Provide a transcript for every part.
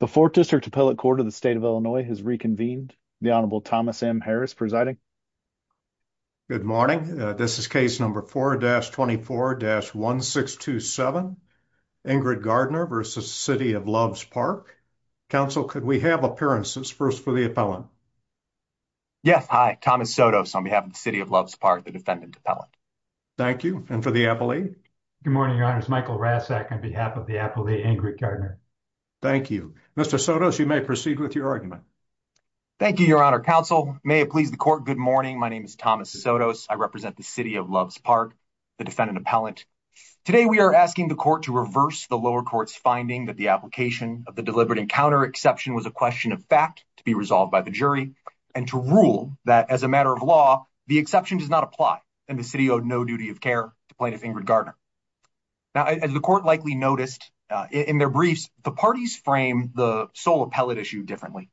The 4th District Appellate Court of the State of Illinois has reconvened. The Honorable Thomas M. Harris presiding. Good morning. This is case number 4-24-1627, Ingrid Gardner v. City of Loves Park. Counsel, could we have appearances? First, for the appellant. Yes, hi. Thomas Sotos on behalf of the City of Loves Park, the defendant appellant. Thank you. And for the appellee? Good morning, your honors. Michael Rasak on behalf of the appellee, Ingrid Gardner. Thank you. Mr. Sotos, you may proceed with your argument. Thank you, your honor. Counsel, may it please the court, good morning. My name is Thomas Sotos. I represent the City of Loves Park, the defendant appellant. Today we are asking the court to reverse the lower court's finding that the application of the deliberate encounter exception was a question of fact to be resolved by the jury and to rule that as a matter of law, the exception does not apply and the city owed no duty of care to plaintiff Ingrid Gardner. Now, as the court likely noticed in their briefs, the parties frame the sole appellate issue differently.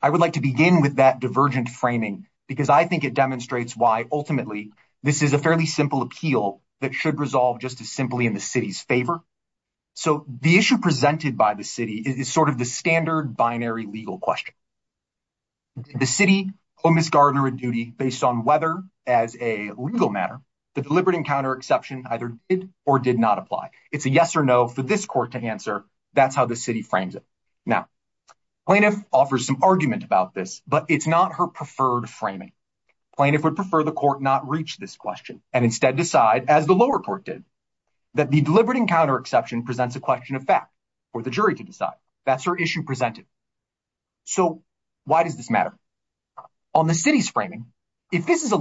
I would like to begin with that divergent framing because I think it demonstrates why ultimately this is a fairly simple appeal that should resolve just as simply in the city's favor. So the issue presented by the city is sort of the standard binary legal question. The city owed Ms. Gardner a duty based on whether, as a legal matter, the deliberate encounter exception either did or did not apply. It's a yes or no for this court to answer. That's how the city frames it. Now, plaintiff offers some argument about this, but it's not her preferred framing. Plaintiff would prefer the court not reach this question and instead decide, as the lower court did, that the deliberate encounter exception presents a question of fact for the jury to decide. That's her issue presented. So why does this matter? On the city's framing, if this is a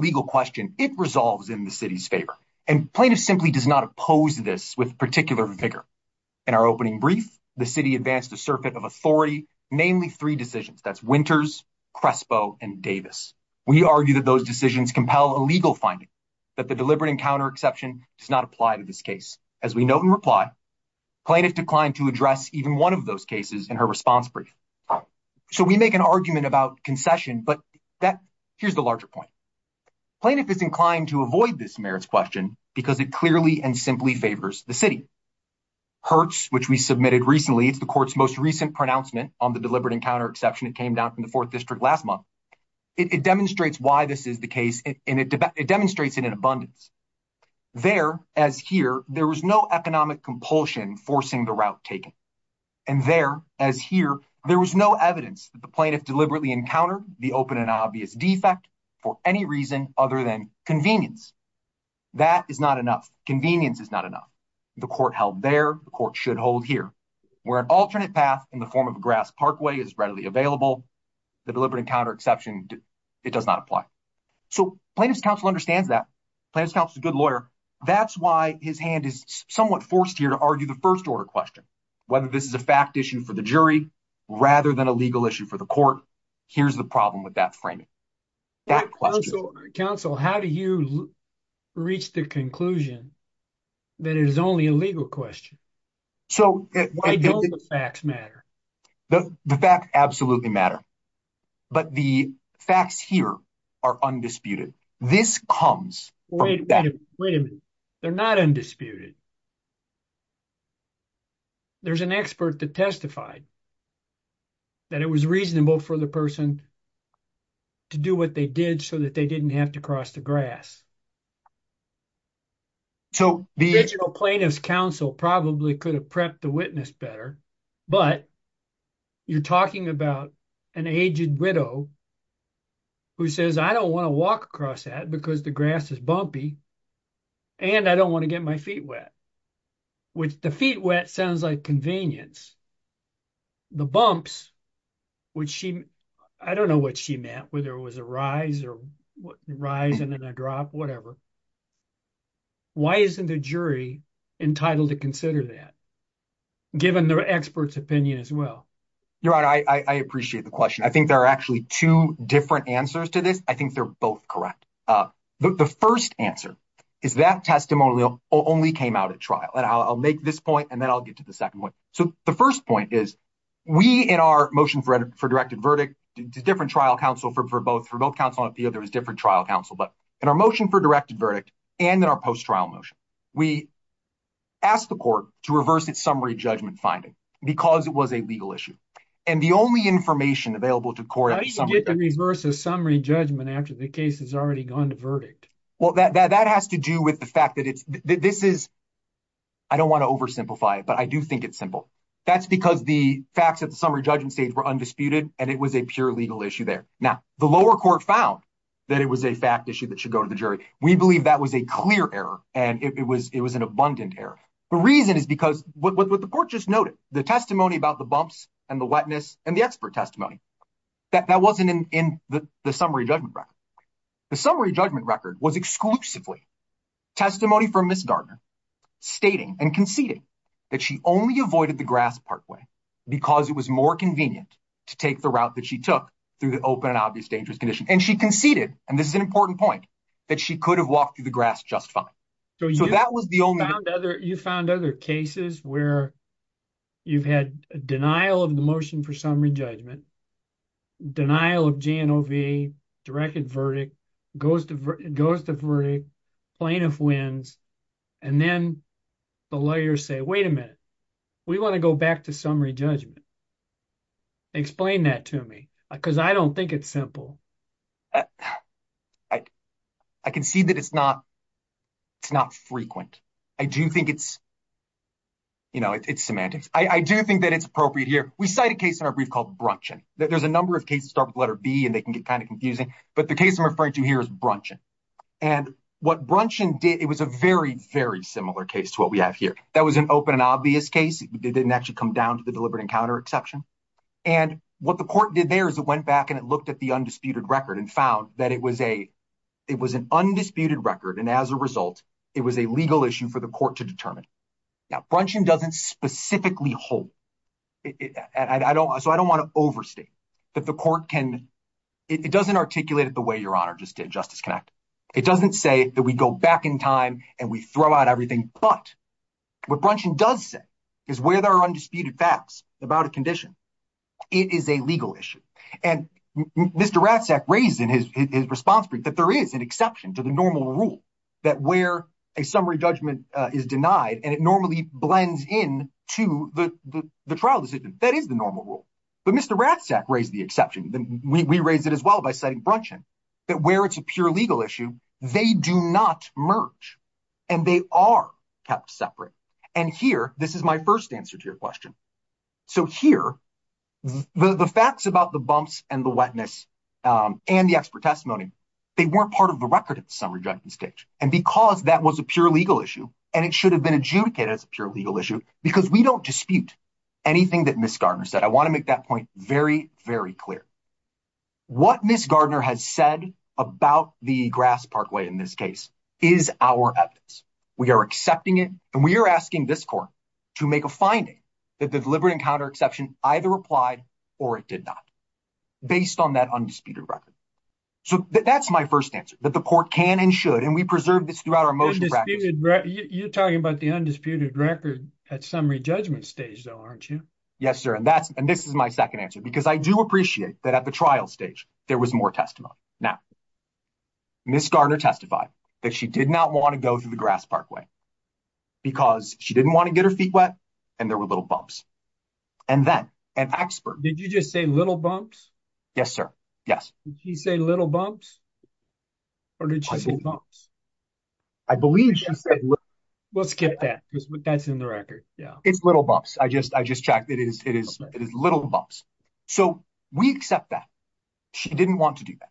plaintiff simply does not oppose this with particular vigor. In our opening brief, the city advanced a circuit of authority, namely three decisions. That's Winters, Crespo, and Davis. We argue that those decisions compel a legal finding, that the deliberate encounter exception does not apply to this case. As we note in reply, plaintiff declined to address even one of those cases in her response brief. So we make an argument about concession, but here's the larger point. Plaintiff is inclined to avoid this merits question because it clearly and simply favors the city. Hertz, which we submitted recently, it's the court's most recent pronouncement on the deliberate encounter exception. It came down from the fourth district last month. It demonstrates why this is the case, and it demonstrates it in abundance. There, as here, there was no economic compulsion forcing the route taken. And there, as here, there was no evidence that the plaintiff deliberately encountered the open and obvious defect for any reason other than convenience. That is not enough. Convenience is not enough. The court held there. The court should hold here. Where an alternate path in the form of a grass parkway is readily available, the deliberate encounter exception, it does not apply. So plaintiff's counsel understands that. Plaintiff's counsel is a good lawyer. That's why his hand is somewhat forced here to argue the first order question, whether this is a fact issue for the jury rather than a legal issue for the court. Here's the problem with that framing. Counsel, how do you reach the conclusion that it is only a legal question? So why don't the facts matter? The facts absolutely matter. But the facts here are undisputed. This comes from that. Wait a minute. They're not undisputed. There's an expert that testified that it was reasonable for the person to do what they did so that they didn't have to cross the grass. So the original plaintiff's counsel probably could have prepped the witness better. But you're talking about an aged widow who says, I don't want to walk across that because the grass is bumpy and I don't want to get my feet wet, which the feet wet sounds like convenience. The bumps, which she, I don't know what she meant, whether it was a rise or rise and then a drop, whatever. Why isn't the jury entitled to consider that given their expert's opinion as well? You're right. I appreciate the question. I think there are actually two different answers to this. I think they're both correct. The first answer is that testimonial only came out at trial. And I'll make this point and then I'll get to the second one. So the first point is we in our motion for directed verdict to different trial counsel for both for both counsel on appeal, there was different trial counsel. But in our motion for directed verdict and in our post-trial motion, we asked the court to reverse its summary judgment finding because it was a legal issue. And the only information available to the court. How did you get the reverse of summary judgment after the case has already gone to verdict? Well, that has to do with the fact that this is, I don't want to oversimplify it, but I do think it's simple. That's because the facts at the summary judgment stage were undisputed and it was a pure legal issue there. Now, the lower court found that it was a fact issue that should go to the jury. We believe that was a clear error and it was an abundant error. The reason is because what the court just noted, the testimony about the bumps and the wetness and the expert testimony, that wasn't in the summary judgment record. The summary judgment record was exclusively testimony from Ms. Gardner stating and conceding that she only avoided the grass partway because it was more convenient to take the route that she took through the open and obvious dangerous condition. And she conceded, and this is an important point, that she could have walked through the grass just fine. So that was the only... You found other cases where you've had denial of the motion for summary judgment, denial of GNOV, directed verdict, goes to verdict, plaintiff wins, and then the lawyers say, wait a minute, we want to go back to summary judgment. Explain that to me because I don't think it's simple. I can see that it's not frequent. I do think it's semantics. I do think that we cite a case in our brief called Brunchan. There's a number of cases that start with letter B and they can get kind of confusing, but the case I'm referring to here is Brunchan. And what Brunchan did, it was a very, very similar case to what we have here. That was an open and obvious case. It didn't actually come down to the deliberate encounter exception. And what the court did there is it went back and it looked at the undisputed record and found that it was an undisputed record. And as a result, it was a legal issue for the court to determine. Now, Brunchan doesn't specifically hold. So I don't want to overstate that the court can, it doesn't articulate it the way Your Honor just did, Justice Knapp. It doesn't say that we go back in time and we throw out everything. But what Brunchan does say is where there are undisputed facts about a condition, it is a legal issue. And Mr. Ratzak raised in his response brief that there is an rule that where a summary judgment is denied and it normally blends in to the trial decision, that is the normal rule. But Mr. Ratzak raised the exception. We raised it as well by citing Brunchan that where it's a pure legal issue, they do not merge and they are kept separate. And here, this is my first answer to your question. So here, the facts about the bumps and wetness and the expert testimony, they weren't part of the record at the summary judgment stage. And because that was a pure legal issue, and it should have been adjudicated as a pure legal issue because we don't dispute anything that Ms. Gardner said. I want to make that point very, very clear. What Ms. Gardner has said about the Grass Parkway in this case is our evidence. We are accepting it and we are asking this court to make a finding that the deliberate encounter exception either applied or it did not based on that undisputed record. So that's my first answer that the court can and should and we preserve this throughout our motion. You're talking about the undisputed record at summary judgment stage though, aren't you? Yes, sir. And that's and this is my second answer because I do appreciate that at the trial stage there was more testimony. Now, Ms. Gardner testified that she did not want to go through the Grass Parkway because she didn't want to get her feet wet and there were little bumps. And then an expert. Did you just say little bumps? Yes, sir. Yes. Did she say little bumps or did she say bumps? I believe she said. We'll skip that because that's in the record. Yeah, it's little bumps. I just I just checked it is it is it is little bumps. So we accept that. She didn't want to do that.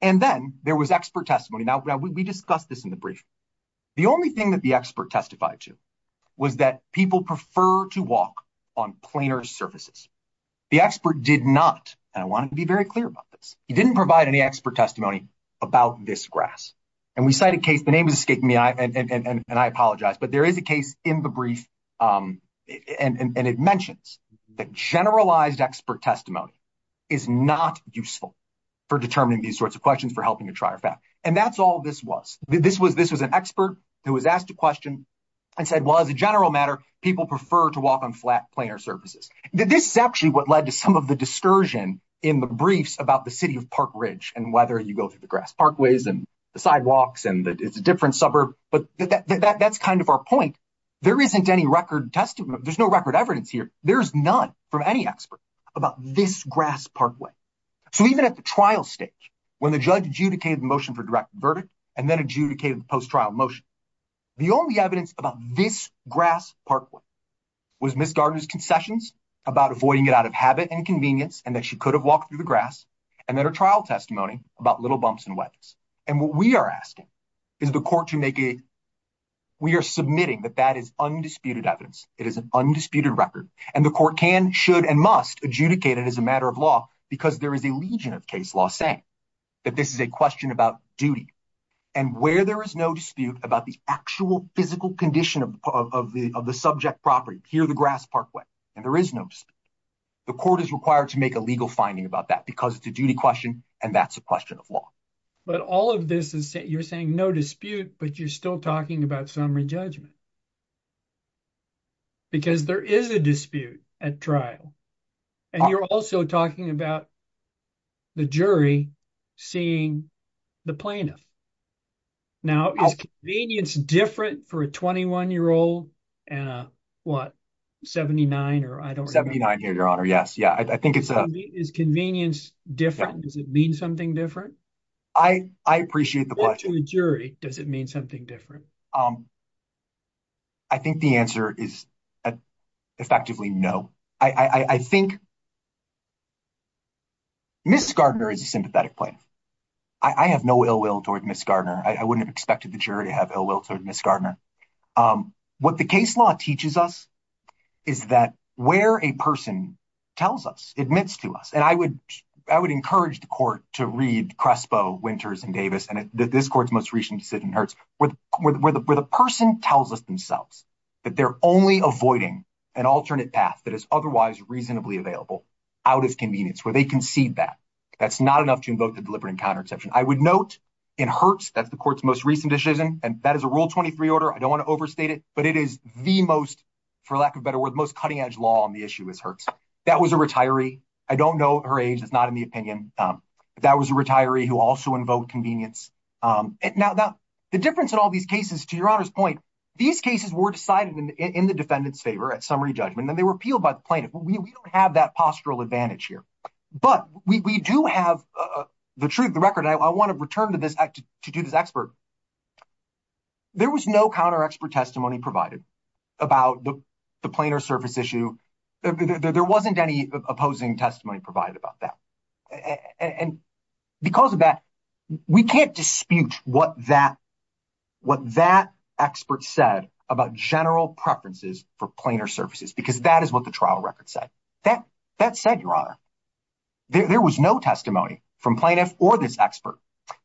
And then there was expert testimony. Now we discussed this in the brief. The only thing that the expert testified to was that people prefer to walk on plainer surfaces. The expert did not. And I want to be very clear about this. He didn't provide any expert testimony about this grass. And we cite a case. The name is escaping me. And I apologize. But there is a case in the brief. And it mentions the generalized expert testimony is not useful for determining these sorts of questions, for helping to try or fact. And that's all this was. This was an expert who was asked a question and said, well, as a general matter, people prefer to walk on flat, plainer surfaces. This is actually what led to some of the discursion in the briefs about the city of Park Ridge and whether you go to the grass parkways and the sidewalks and it's a different suburb. But that's kind of our point. There isn't any record testimony. There's no record evidence here. There's none from any expert about this grass parkway. So even at the trial stage, when the judge adjudicated the motion for direct verdict and then adjudicated the post-trial motion, the only evidence about this grass parkway was Miss Gardner's concessions about avoiding it out of habit and convenience, and that she could have walked through the grass and that her trial testimony about little bumps and wedges. And what we are asking is the court to make a, we are submitting that that is undisputed evidence. It is an undisputed record and the court can, should, and must adjudicate it as a matter of law because there is a legion of case law saying that this is a question about duty and where there is no dispute about the actual physical condition of the subject property, here the grass parkway, and there is no dispute. The court is required to make a legal finding about that because it's a duty question and that's a question of law. But all of this is, you're saying no dispute, but you're still talking about summary judgment because there is a dispute at trial and you're also talking about the jury seeing the plaintiff. Now, is convenience different for a 21-year-old and a, what, 79 or I don't know? 79 here, your honor, yes. Yeah, I think it's a... Is convenience different? Does it mean something different? I appreciate the question. To a jury, does it mean something different? I think the answer is effectively no. I think Ms. Gardner is a sympathetic plaintiff. I have no ill will toward Ms. Gardner. I wouldn't have expected the jury to have ill will toward Ms. Gardner. What the case law teaches us is that where a person tells us, admits to us, and I would encourage the court to read Crespo, Winters, and Davis, and this court's most recent decision, Hertz, where the person tells us themselves that they're only avoiding an alternate path that is otherwise reasonably available out of convenience, where they concede that. That's not enough to invoke the deliberate encounter exception. I would note in Hertz, that's the court's most recent decision, and that is a Rule 23 order. I don't want to overstate it, but it is the most, for lack of a better word, most cutting-edge law on the issue is Hertz. That was a retiree. I don't know her age, not in the opinion. That was a retiree who also invoked convenience. The difference in all these cases, to Your Honor's point, these cases were decided in the defendant's favor at summary judgment, and they were appealed by the plaintiff. We don't have that postural advantage here, but we do have the truth, the record. I want to return to this to do this expert. There was no counter-expert testimony provided about the plaintiff's service issue. There wasn't any opposing testimony provided about that. Because of that, we can't dispute what that expert said about general preferences for plainer services, because that is what the trial record said. That said, Your Honor, there was no testimony from plaintiff or this expert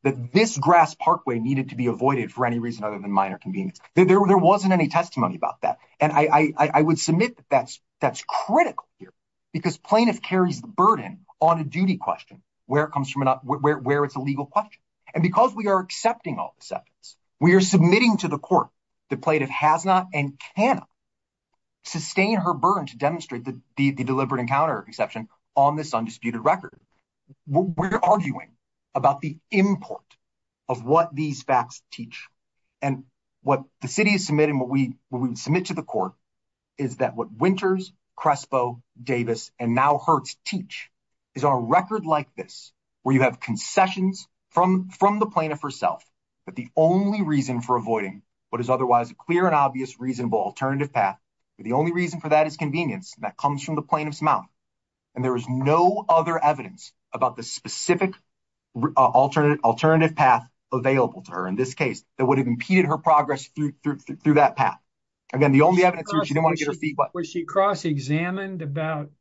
that this grass parkway needed to be avoided for any reason other than minor convenience. There wasn't any testimony about that. I would submit that that's critical here, because plaintiff carries the burden on a duty question, where it's a legal question. Because we are accepting all acceptance, we are submitting to the court that plaintiff has not and cannot sustain her burden to demonstrate the deliberate encounter exception on this record. We're arguing about the import of what these facts teach. And what the city is submitting, what we would submit to the court, is that what Winters, Crespo, Davis, and now Hertz teach is on a record like this, where you have concessions from the plaintiff herself, but the only reason for avoiding what is otherwise a clear and obvious reasonable alternative path, but the only reason for that is convenience, and that comes from the plaintiff's mouth. And there is no other evidence about the specific alternative path available to her in this case that would have impeded her progress through that path. Again, the only evidence is she didn't want to get her feet wet. Was she cross-examined about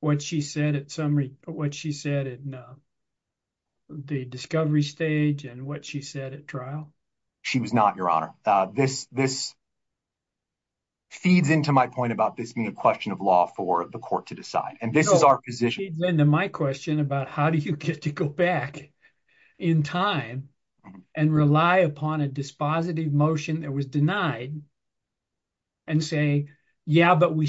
what she said at the discovery stage and what she said at trial? She was not, Your Honor. This feeds into my point about this being a question of law for the court to decide, and this is our position. It feeds into my question about how do you get to go back in time and rely upon a dispositive motion that was denied and say, yeah, but we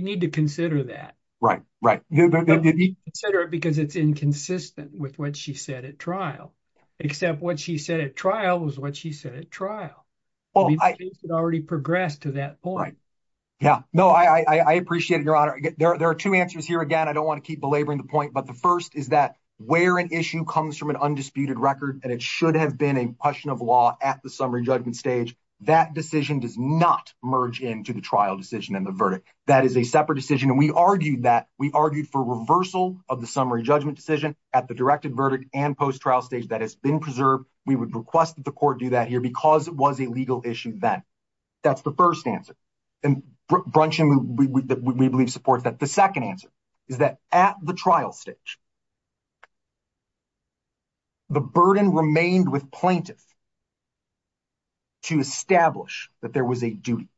need to consider that. Right, right. But we need to consider it because it's inconsistent with what she said at trial, except what she said at trial was what she said at trial. She had already progressed to that point. Yeah. No, I appreciate it, Your Honor. There are two answers here. Again, I don't want to keep belaboring the point, but the first is that where an issue comes from an undisputed record and it should have been a question of law at the summary judgment stage, that decision does not merge into the trial decision and the verdict. That is a separate decision, and we argued that. We argued for reversal of the summary judgment decision at the directed verdict and post-trial stage that has been preserved. We would request the court do that here because it was a legal issue then. That's the first answer, and Brunchan we believe supports that. The second answer is that at the trial stage, the burden remained with plaintiff to establish that there was a duty,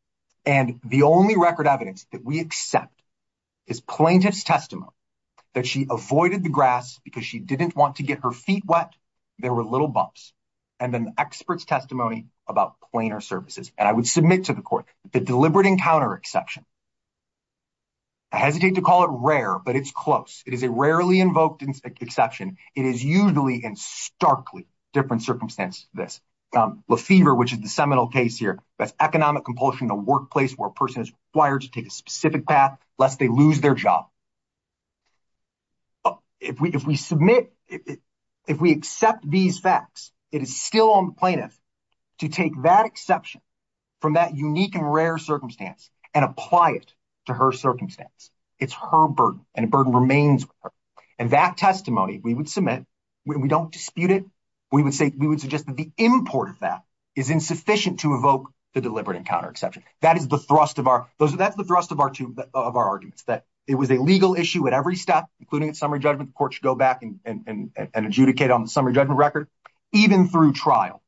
and the only record evidence that we accept is plaintiff's testimony that she avoided the grass because she didn't want to get her feet wet. There were little bumps, and then the expert's testimony about plainer services, and I would submit to the court the deliberate encounter exception. I hesitate to call it rare, but it's close. It is a rarely invoked exception. It is usually in starkly different circumstances than this. Lefevre, which is the seminal case here, that's economic compulsion in the workplace where a person is required to take a specific path lest they lose their job. If we accept these facts, it is still on plaintiff to take that exception from that unique and rare circumstance and apply it to her circumstance. It's her burden, and the burden remains with her, and that testimony we would submit. We don't dispute it. We would suggest that the import of that is insufficient to evoke the deliberate encounter exception. That is the thrust of our arguments, that it was a legal issue at every step, including its summary judgment. The court should go back and adjudicate on the summary judgment record. Even through trial,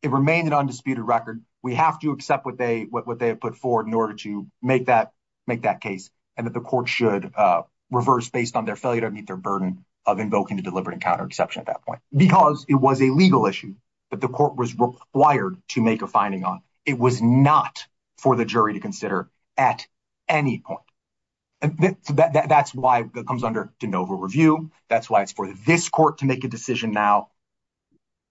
it remained an undisputed record. We have to accept what they have put forward in order to make that case and that the court should reverse based on their failure to meet their burden of invoking the deliberate encounter exception at that point because it was a legal issue that court was required to make a finding on. It was not for the jury to consider at any point. That's why it comes under de novo review. That's why it's for this court to make a decision now.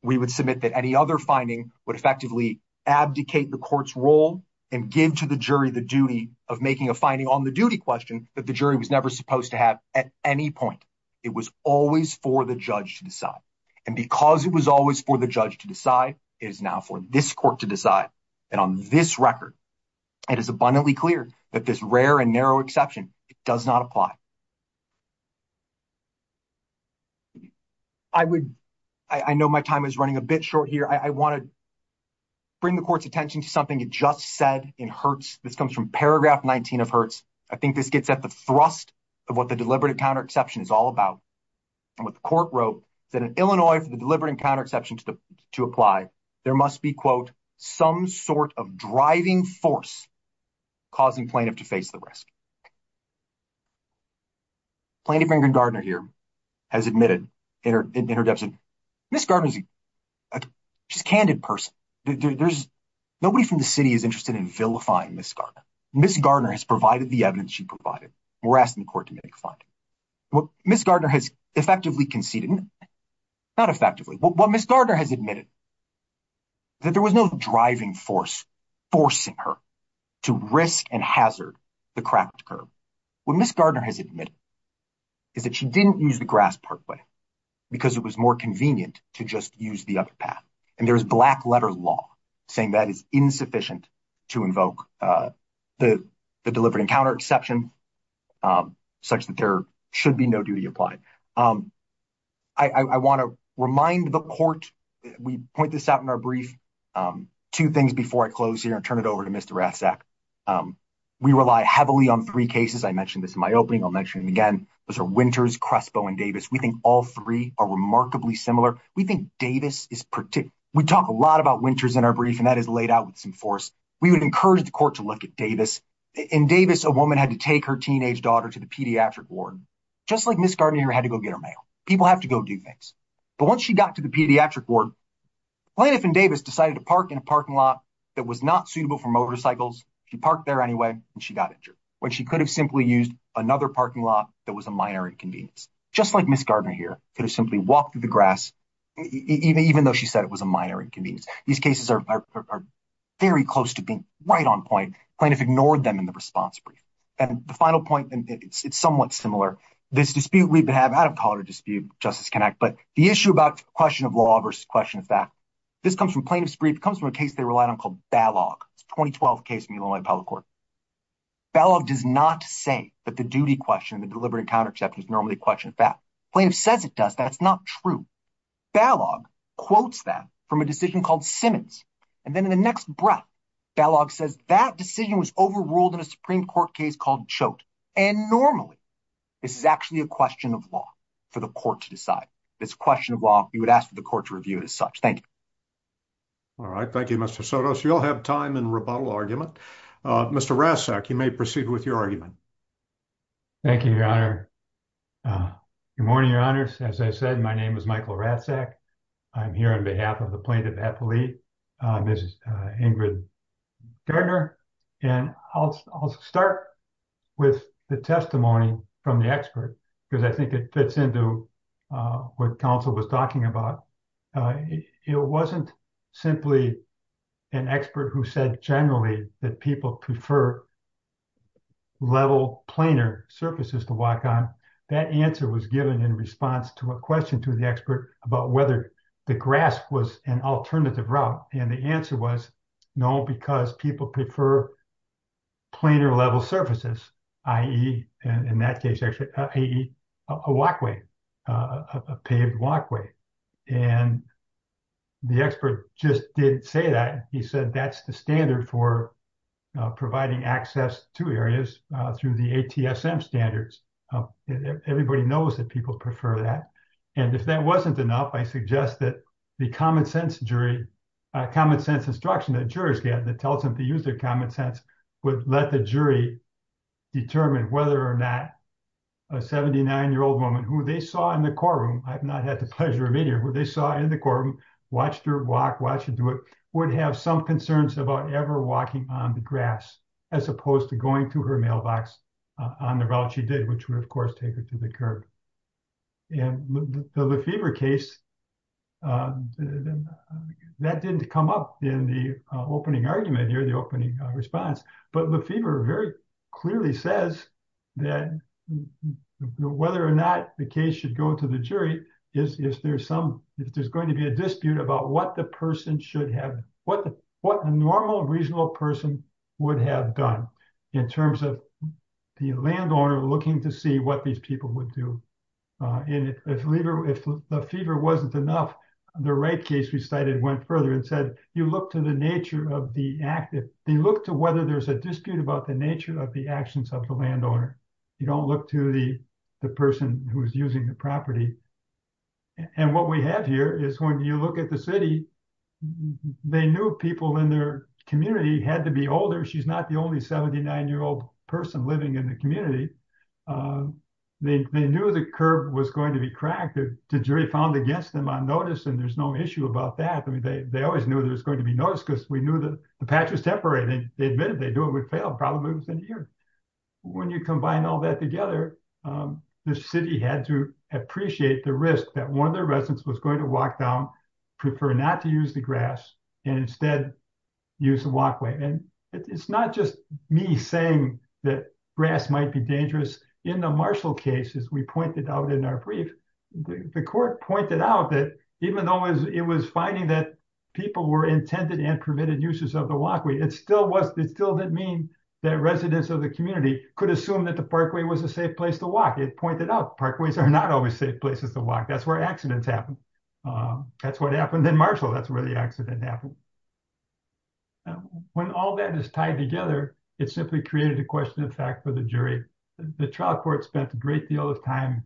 We would submit that any other finding would effectively abdicate the court's role and give to the jury the duty of making a finding on the duty question that the jury was never supposed to have at any point. It was always for the judge to decide, and because it was always for the judge to decide, it is now for this court to decide. And on this record, it is abundantly clear that this rare and narrow exception does not apply. I know my time is running a bit short here. I want to bring the court's attention to something it just said in Hertz. This comes from paragraph 19 of Hertz. I think this gets at the thrust of what the deliberate encounter exception is all about and what the court wrote that in Illinois for the deliberate encounter exception to apply, there must be quote some sort of driving force causing plaintiff to face the risk. Plaintiff Ingrid Gardner here has admitted in her in her deposition, Ms. Gardner is a just candid person. There's nobody from the city is interested in vilifying Ms. Gardner. Ms. Gardner has provided the evidence she provided. We're asking the court to make a what Ms. Gardner has effectively conceded, not effectively, what Ms. Gardner has admitted that there was no driving force forcing her to risk and hazard the craft curve. What Ms. Gardner has admitted is that she didn't use the grass part way because it was more convenient to just use the other path. And there is black letter law saying that is insufficient to invoke the deliberate encounter exception such that there should be no duty applied. I want to remind the court, we point this out in our brief, two things before I close here and turn it over to Mr. Ratzak. We rely heavily on three cases. I mentioned this in my opening. I'll mention it again. Those are Winters, Crespo and Davis. We think all three are remarkably similar. We think Davis is particular. We talk a lot about Winters in our brief and that is laid out with force. We would encourage the court to look at Davis. In Davis, a woman had to take her teenage daughter to the pediatric ward, just like Ms. Gardner had to go get her mail. People have to go do things. But once she got to the pediatric ward, Planoff and Davis decided to park in a parking lot that was not suitable for motorcycles. She parked there anyway and she got injured when she could have simply used another parking lot that was a minor inconvenience, just like Ms. Gardner here could have simply walked through the grass, even though she said it was a minor inconvenience. These cases are very close to being right on point. Planoff ignored them in the response brief. And the final point, it's somewhat similar. This dispute we have, I don't call it a dispute, Justice Connect, but the issue about question of law versus question of fact, this comes from Planoff's brief. It comes from a case they relied on called Balog. It's a 2012 case in Illinois Appellate Court. Balog does not say that the duty question, the deliberate counter-exception is normally a question of fact. Planoff says it does. That's not true. Balog quotes that from a decision called Simmons. And then in the next breath, Balog says that decision was overruled in a Supreme Court case called Choate. And normally, this is actually a question of law for the court to decide. This question of law, we would ask for the court to review it as such. Thank you. All right. Thank you, Mr. Sotos. You'll have time in rebuttal argument. Mr. Ratzak, you may proceed with your argument. Thank you, Your Honor. Good morning, Your Honors. As I said, my name is Michael Ratzak. I'm here on behalf of the plaintiff appellee, Ms. Ingrid Gardner. And I'll start with the testimony from the expert because I think it fits into what counsel was talking about. It wasn't simply an expert who said generally that people prefer level planar surfaces to walk on. That answer was given in response to a question to the expert about whether the grass was an alternative route. And the answer was no, because people prefer planar level surfaces, i.e., in that case, actually, i.e., a walkway, a paved walkway. And the expert just didn't say that. He said that's the standard for providing access to areas through the ATSM standards. Everybody knows that people prefer that. And if that wasn't enough, I suggest that the common sense jury, common sense instruction that jurors get that tells them to use their common sense would let the jury determine whether or not a 79-year-old woman who they saw in the courtroom, I've not had the pleasure of it here, who they saw in the courtroom, watched her walk, watched her do it, would have some concerns about ever walking on the grass as opposed to going to her mailbox on the route she did, which would, of course, take her to the curb. And the Lefevre case, that didn't come up in the opening argument here, the opening response, but Lefevre very clearly says that whether or not the case should go to the jury, if there's some, if there's going to be a dispute about what the person should have, what a normal, reasonable person would have done in terms of the landowner looking to see what these people would do. And if Lefevre, if Lefevre wasn't enough, the Wright case we cited went further and said, you look to the nature of the active, they look to whether there's a dispute about the nature of the actions of the landowner. You don't look to the person who's using the property. And what we have here is when you look at the city, they knew people in their community had to be older. She's not the only 79-year-old person living in the community. They knew the curb was going to be cracked, the jury found against them on notice, and there's no issue about that. I mean, they always knew that it was going to be noticed because we knew that the patch was temporary. They admitted they knew it would fail, probably within a year. When you combine all that together, the city had to appreciate the risk that one of their residents was going to walk down, prefer not to use the grass, and instead use the walkway. And it's not just me saying that grass might be dangerous. In the Marshall case, as we pointed out in our brief, the court pointed out that even though it was finding that people were intended and permitted uses of the walkway, it still didn't mean that residents of the community could assume that the parkway was a safe place to walk. It pointed out parkways are not always safe places to walk. That's where accidents happen. That's what happened in Marshall. That's where the accident happened. When all that is tied together, it simply created a question of fact for the jury. The trial court spent a great deal of time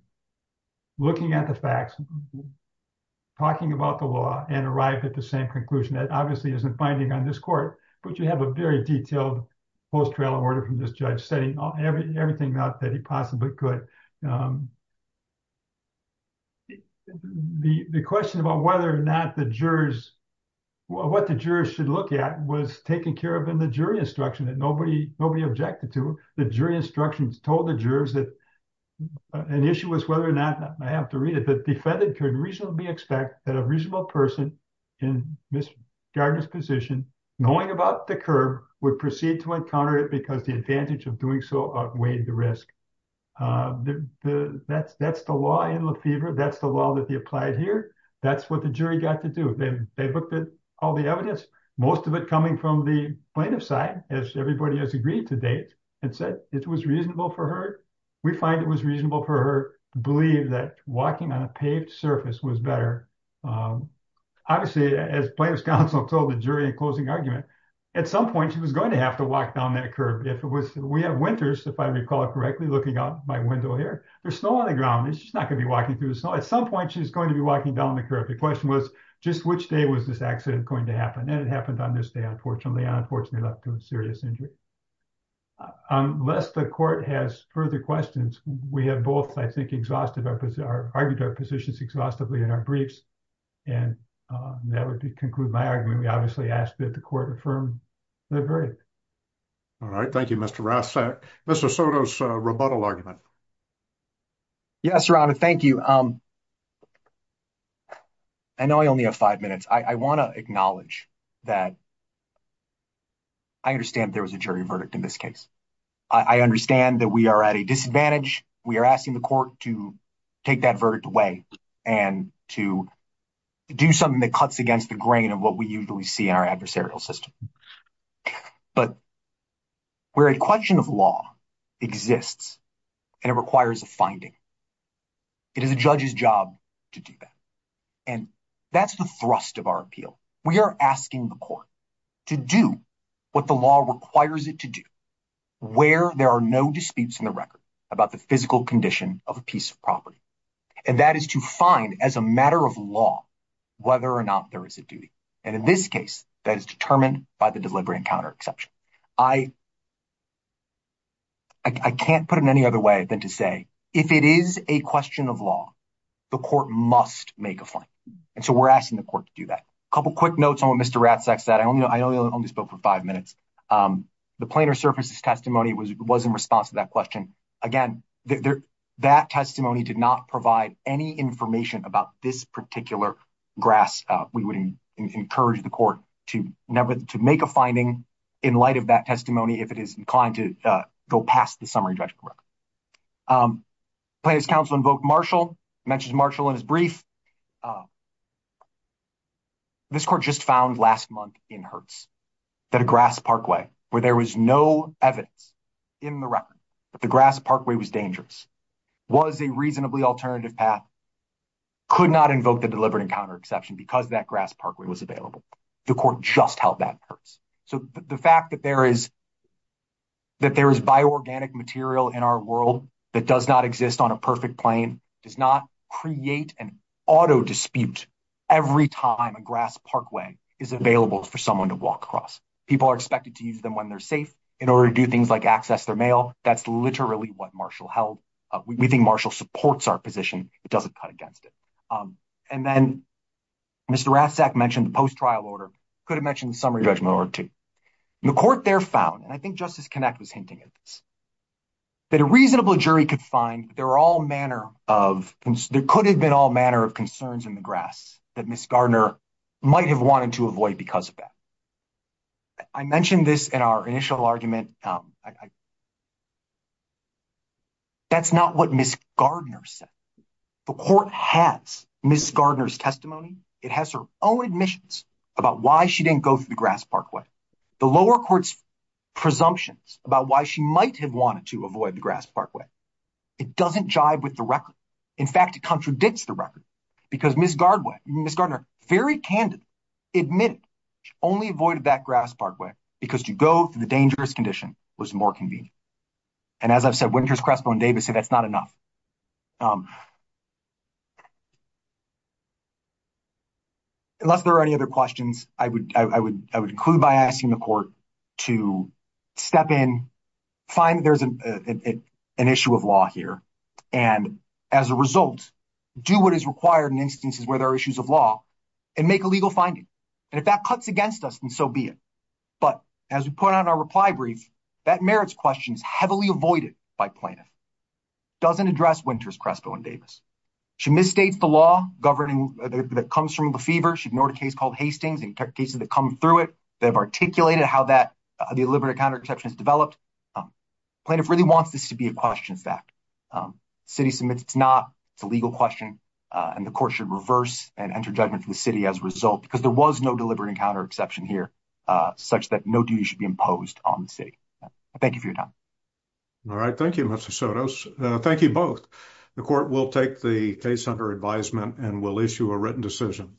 looking at the facts, talking about the law, and arrived at the same conclusion. That obviously isn't binding on this court, but you have a very detailed post-trail order from this judge, setting everything out that he possibly could. The question about whether or not the jurors, what the jurors should look at was taken care of in the jury instruction that nobody objected to. The jury instructions told the jurors that an issue was whether or not, I have to read it, the defendant could reasonably expect that a reasonable person in Ms. Gardner's position, knowing about the curb, would proceed to encounter it because the advantage of doing so outweighed the risk. That's the law in Lefevre. That's the law that they applied here. That's what the jury got to do. They looked at all the evidence, most of it coming from the plaintiff's side, as everybody has agreed to date, and said it was reasonable for her. We find it was reasonable for her to believe that walking on a paved surface was better. Obviously, as plaintiff's counsel told the jury in closing argument, at some point, she was going to have to walk down that curb. We have winters, if I recall correctly, looking out my window here. There's snow on the ground. She's not going to be walking through the snow. At some point, she's going to be walking down the curb. The question was just which day was this accident going to happen. It happened on this day, unfortunately, and unfortunately, left her with serious injury. Unless the court has further questions, we have both, I think, argued our positions exhaustively in our briefs. That would conclude my argument. We obviously ask that the court affirm Lefevre's verdict. All right. Thank you, Mr. Rossak. Mr. Soto's rebuttal argument. Yes, Your Honor. Thank you. I know I only have five minutes. I want to acknowledge that I understand there was a jury verdict in this case. I understand that we are at a disadvantage. We are asking the court to take that verdict away and to do something that cuts against the grain of what we usually see in our adversarial system. Where a question of law exists and it requires a finding, it is a judge's job to do that. That's the thrust of our appeal. We are asking the court to do what the law requires it to do, where there are no disputes in the record about the physical condition of a piece of property. That is to find, as a matter of law, whether or not there is a duty. In this case, that is determined by the delivery and counter exception. I can't put it any other way than to say if it is a question of law, the court must make a finding. We are asking the court to do that. A couple of quick notes on what Mr. Rossak said. I only spoke for five minutes. The plaintiff's testimony was in response to that question. Again, that testimony did not provide any information about this particular grasp. We would encourage the court to make a finding in light of that testimony if it is inclined to go past the summary judgment record. Plaintiff's counsel invoked Marshall, mentioned Marshall in his brief. This court just found last month in Hertz that a grass parkway, where there was no evidence in the record that the grass parkway was dangerous, was a reasonably alternative path, could not invoke the delivery and counter exception because that grass parkway was available. The court just held that in Hertz. The fact that there is bio-organic material in our world that does not exist on a perfect plane does not create an auto dispute every time a grass parkway is available for someone to walk across. People are expected to use them when they're safe in order to do things like access their mail. That's literally what Marshall held. We think Rathsack mentioned the post-trial order, could have mentioned the summary judgment order too. The court there found, and I think Justice Kinect was hinting at this, that a reasonable jury could find there could have been all manner of concerns in the grass that Ms. Gardner might have wanted to avoid because of that. I mentioned this in our initial argument. That's not what Ms. Gardner said. The court has Ms. Gardner's testimony. It has her own admissions about why she didn't go through the grass parkway. The lower court's presumptions about why she might have wanted to avoid the grass parkway. It doesn't jive with the record. In fact, it contradicts the record because Ms. Gardner very candidly admitted she only avoided that grass parkway because you dangerous condition was more convenient. As I've said, Winters, Crespo, and Davis say that's not enough. Unless there are any other questions, I would include by asking the court to step in, find there's an issue of law here, and as a result, do what is required in instances where there are issues of law and make a legal finding. If that cuts against us, then so be it. But as we brief, that merits questions heavily avoided by plaintiff. It doesn't address Winters, Crespo, and Davis. She misstates the law that comes from the fever. She ignored a case called Hastings and cases that come through it that have articulated how that deliberate counter-exception has developed. Plaintiff really wants this to be a question fact. The city submits it's not. It's a legal question and the court should reverse and enter judgment to the city as a result because there was no on the city. Thank you for your time. All right. Thank you, Mr. Sotos. Thank you both. The court will take the case under advisement and will issue a written decision.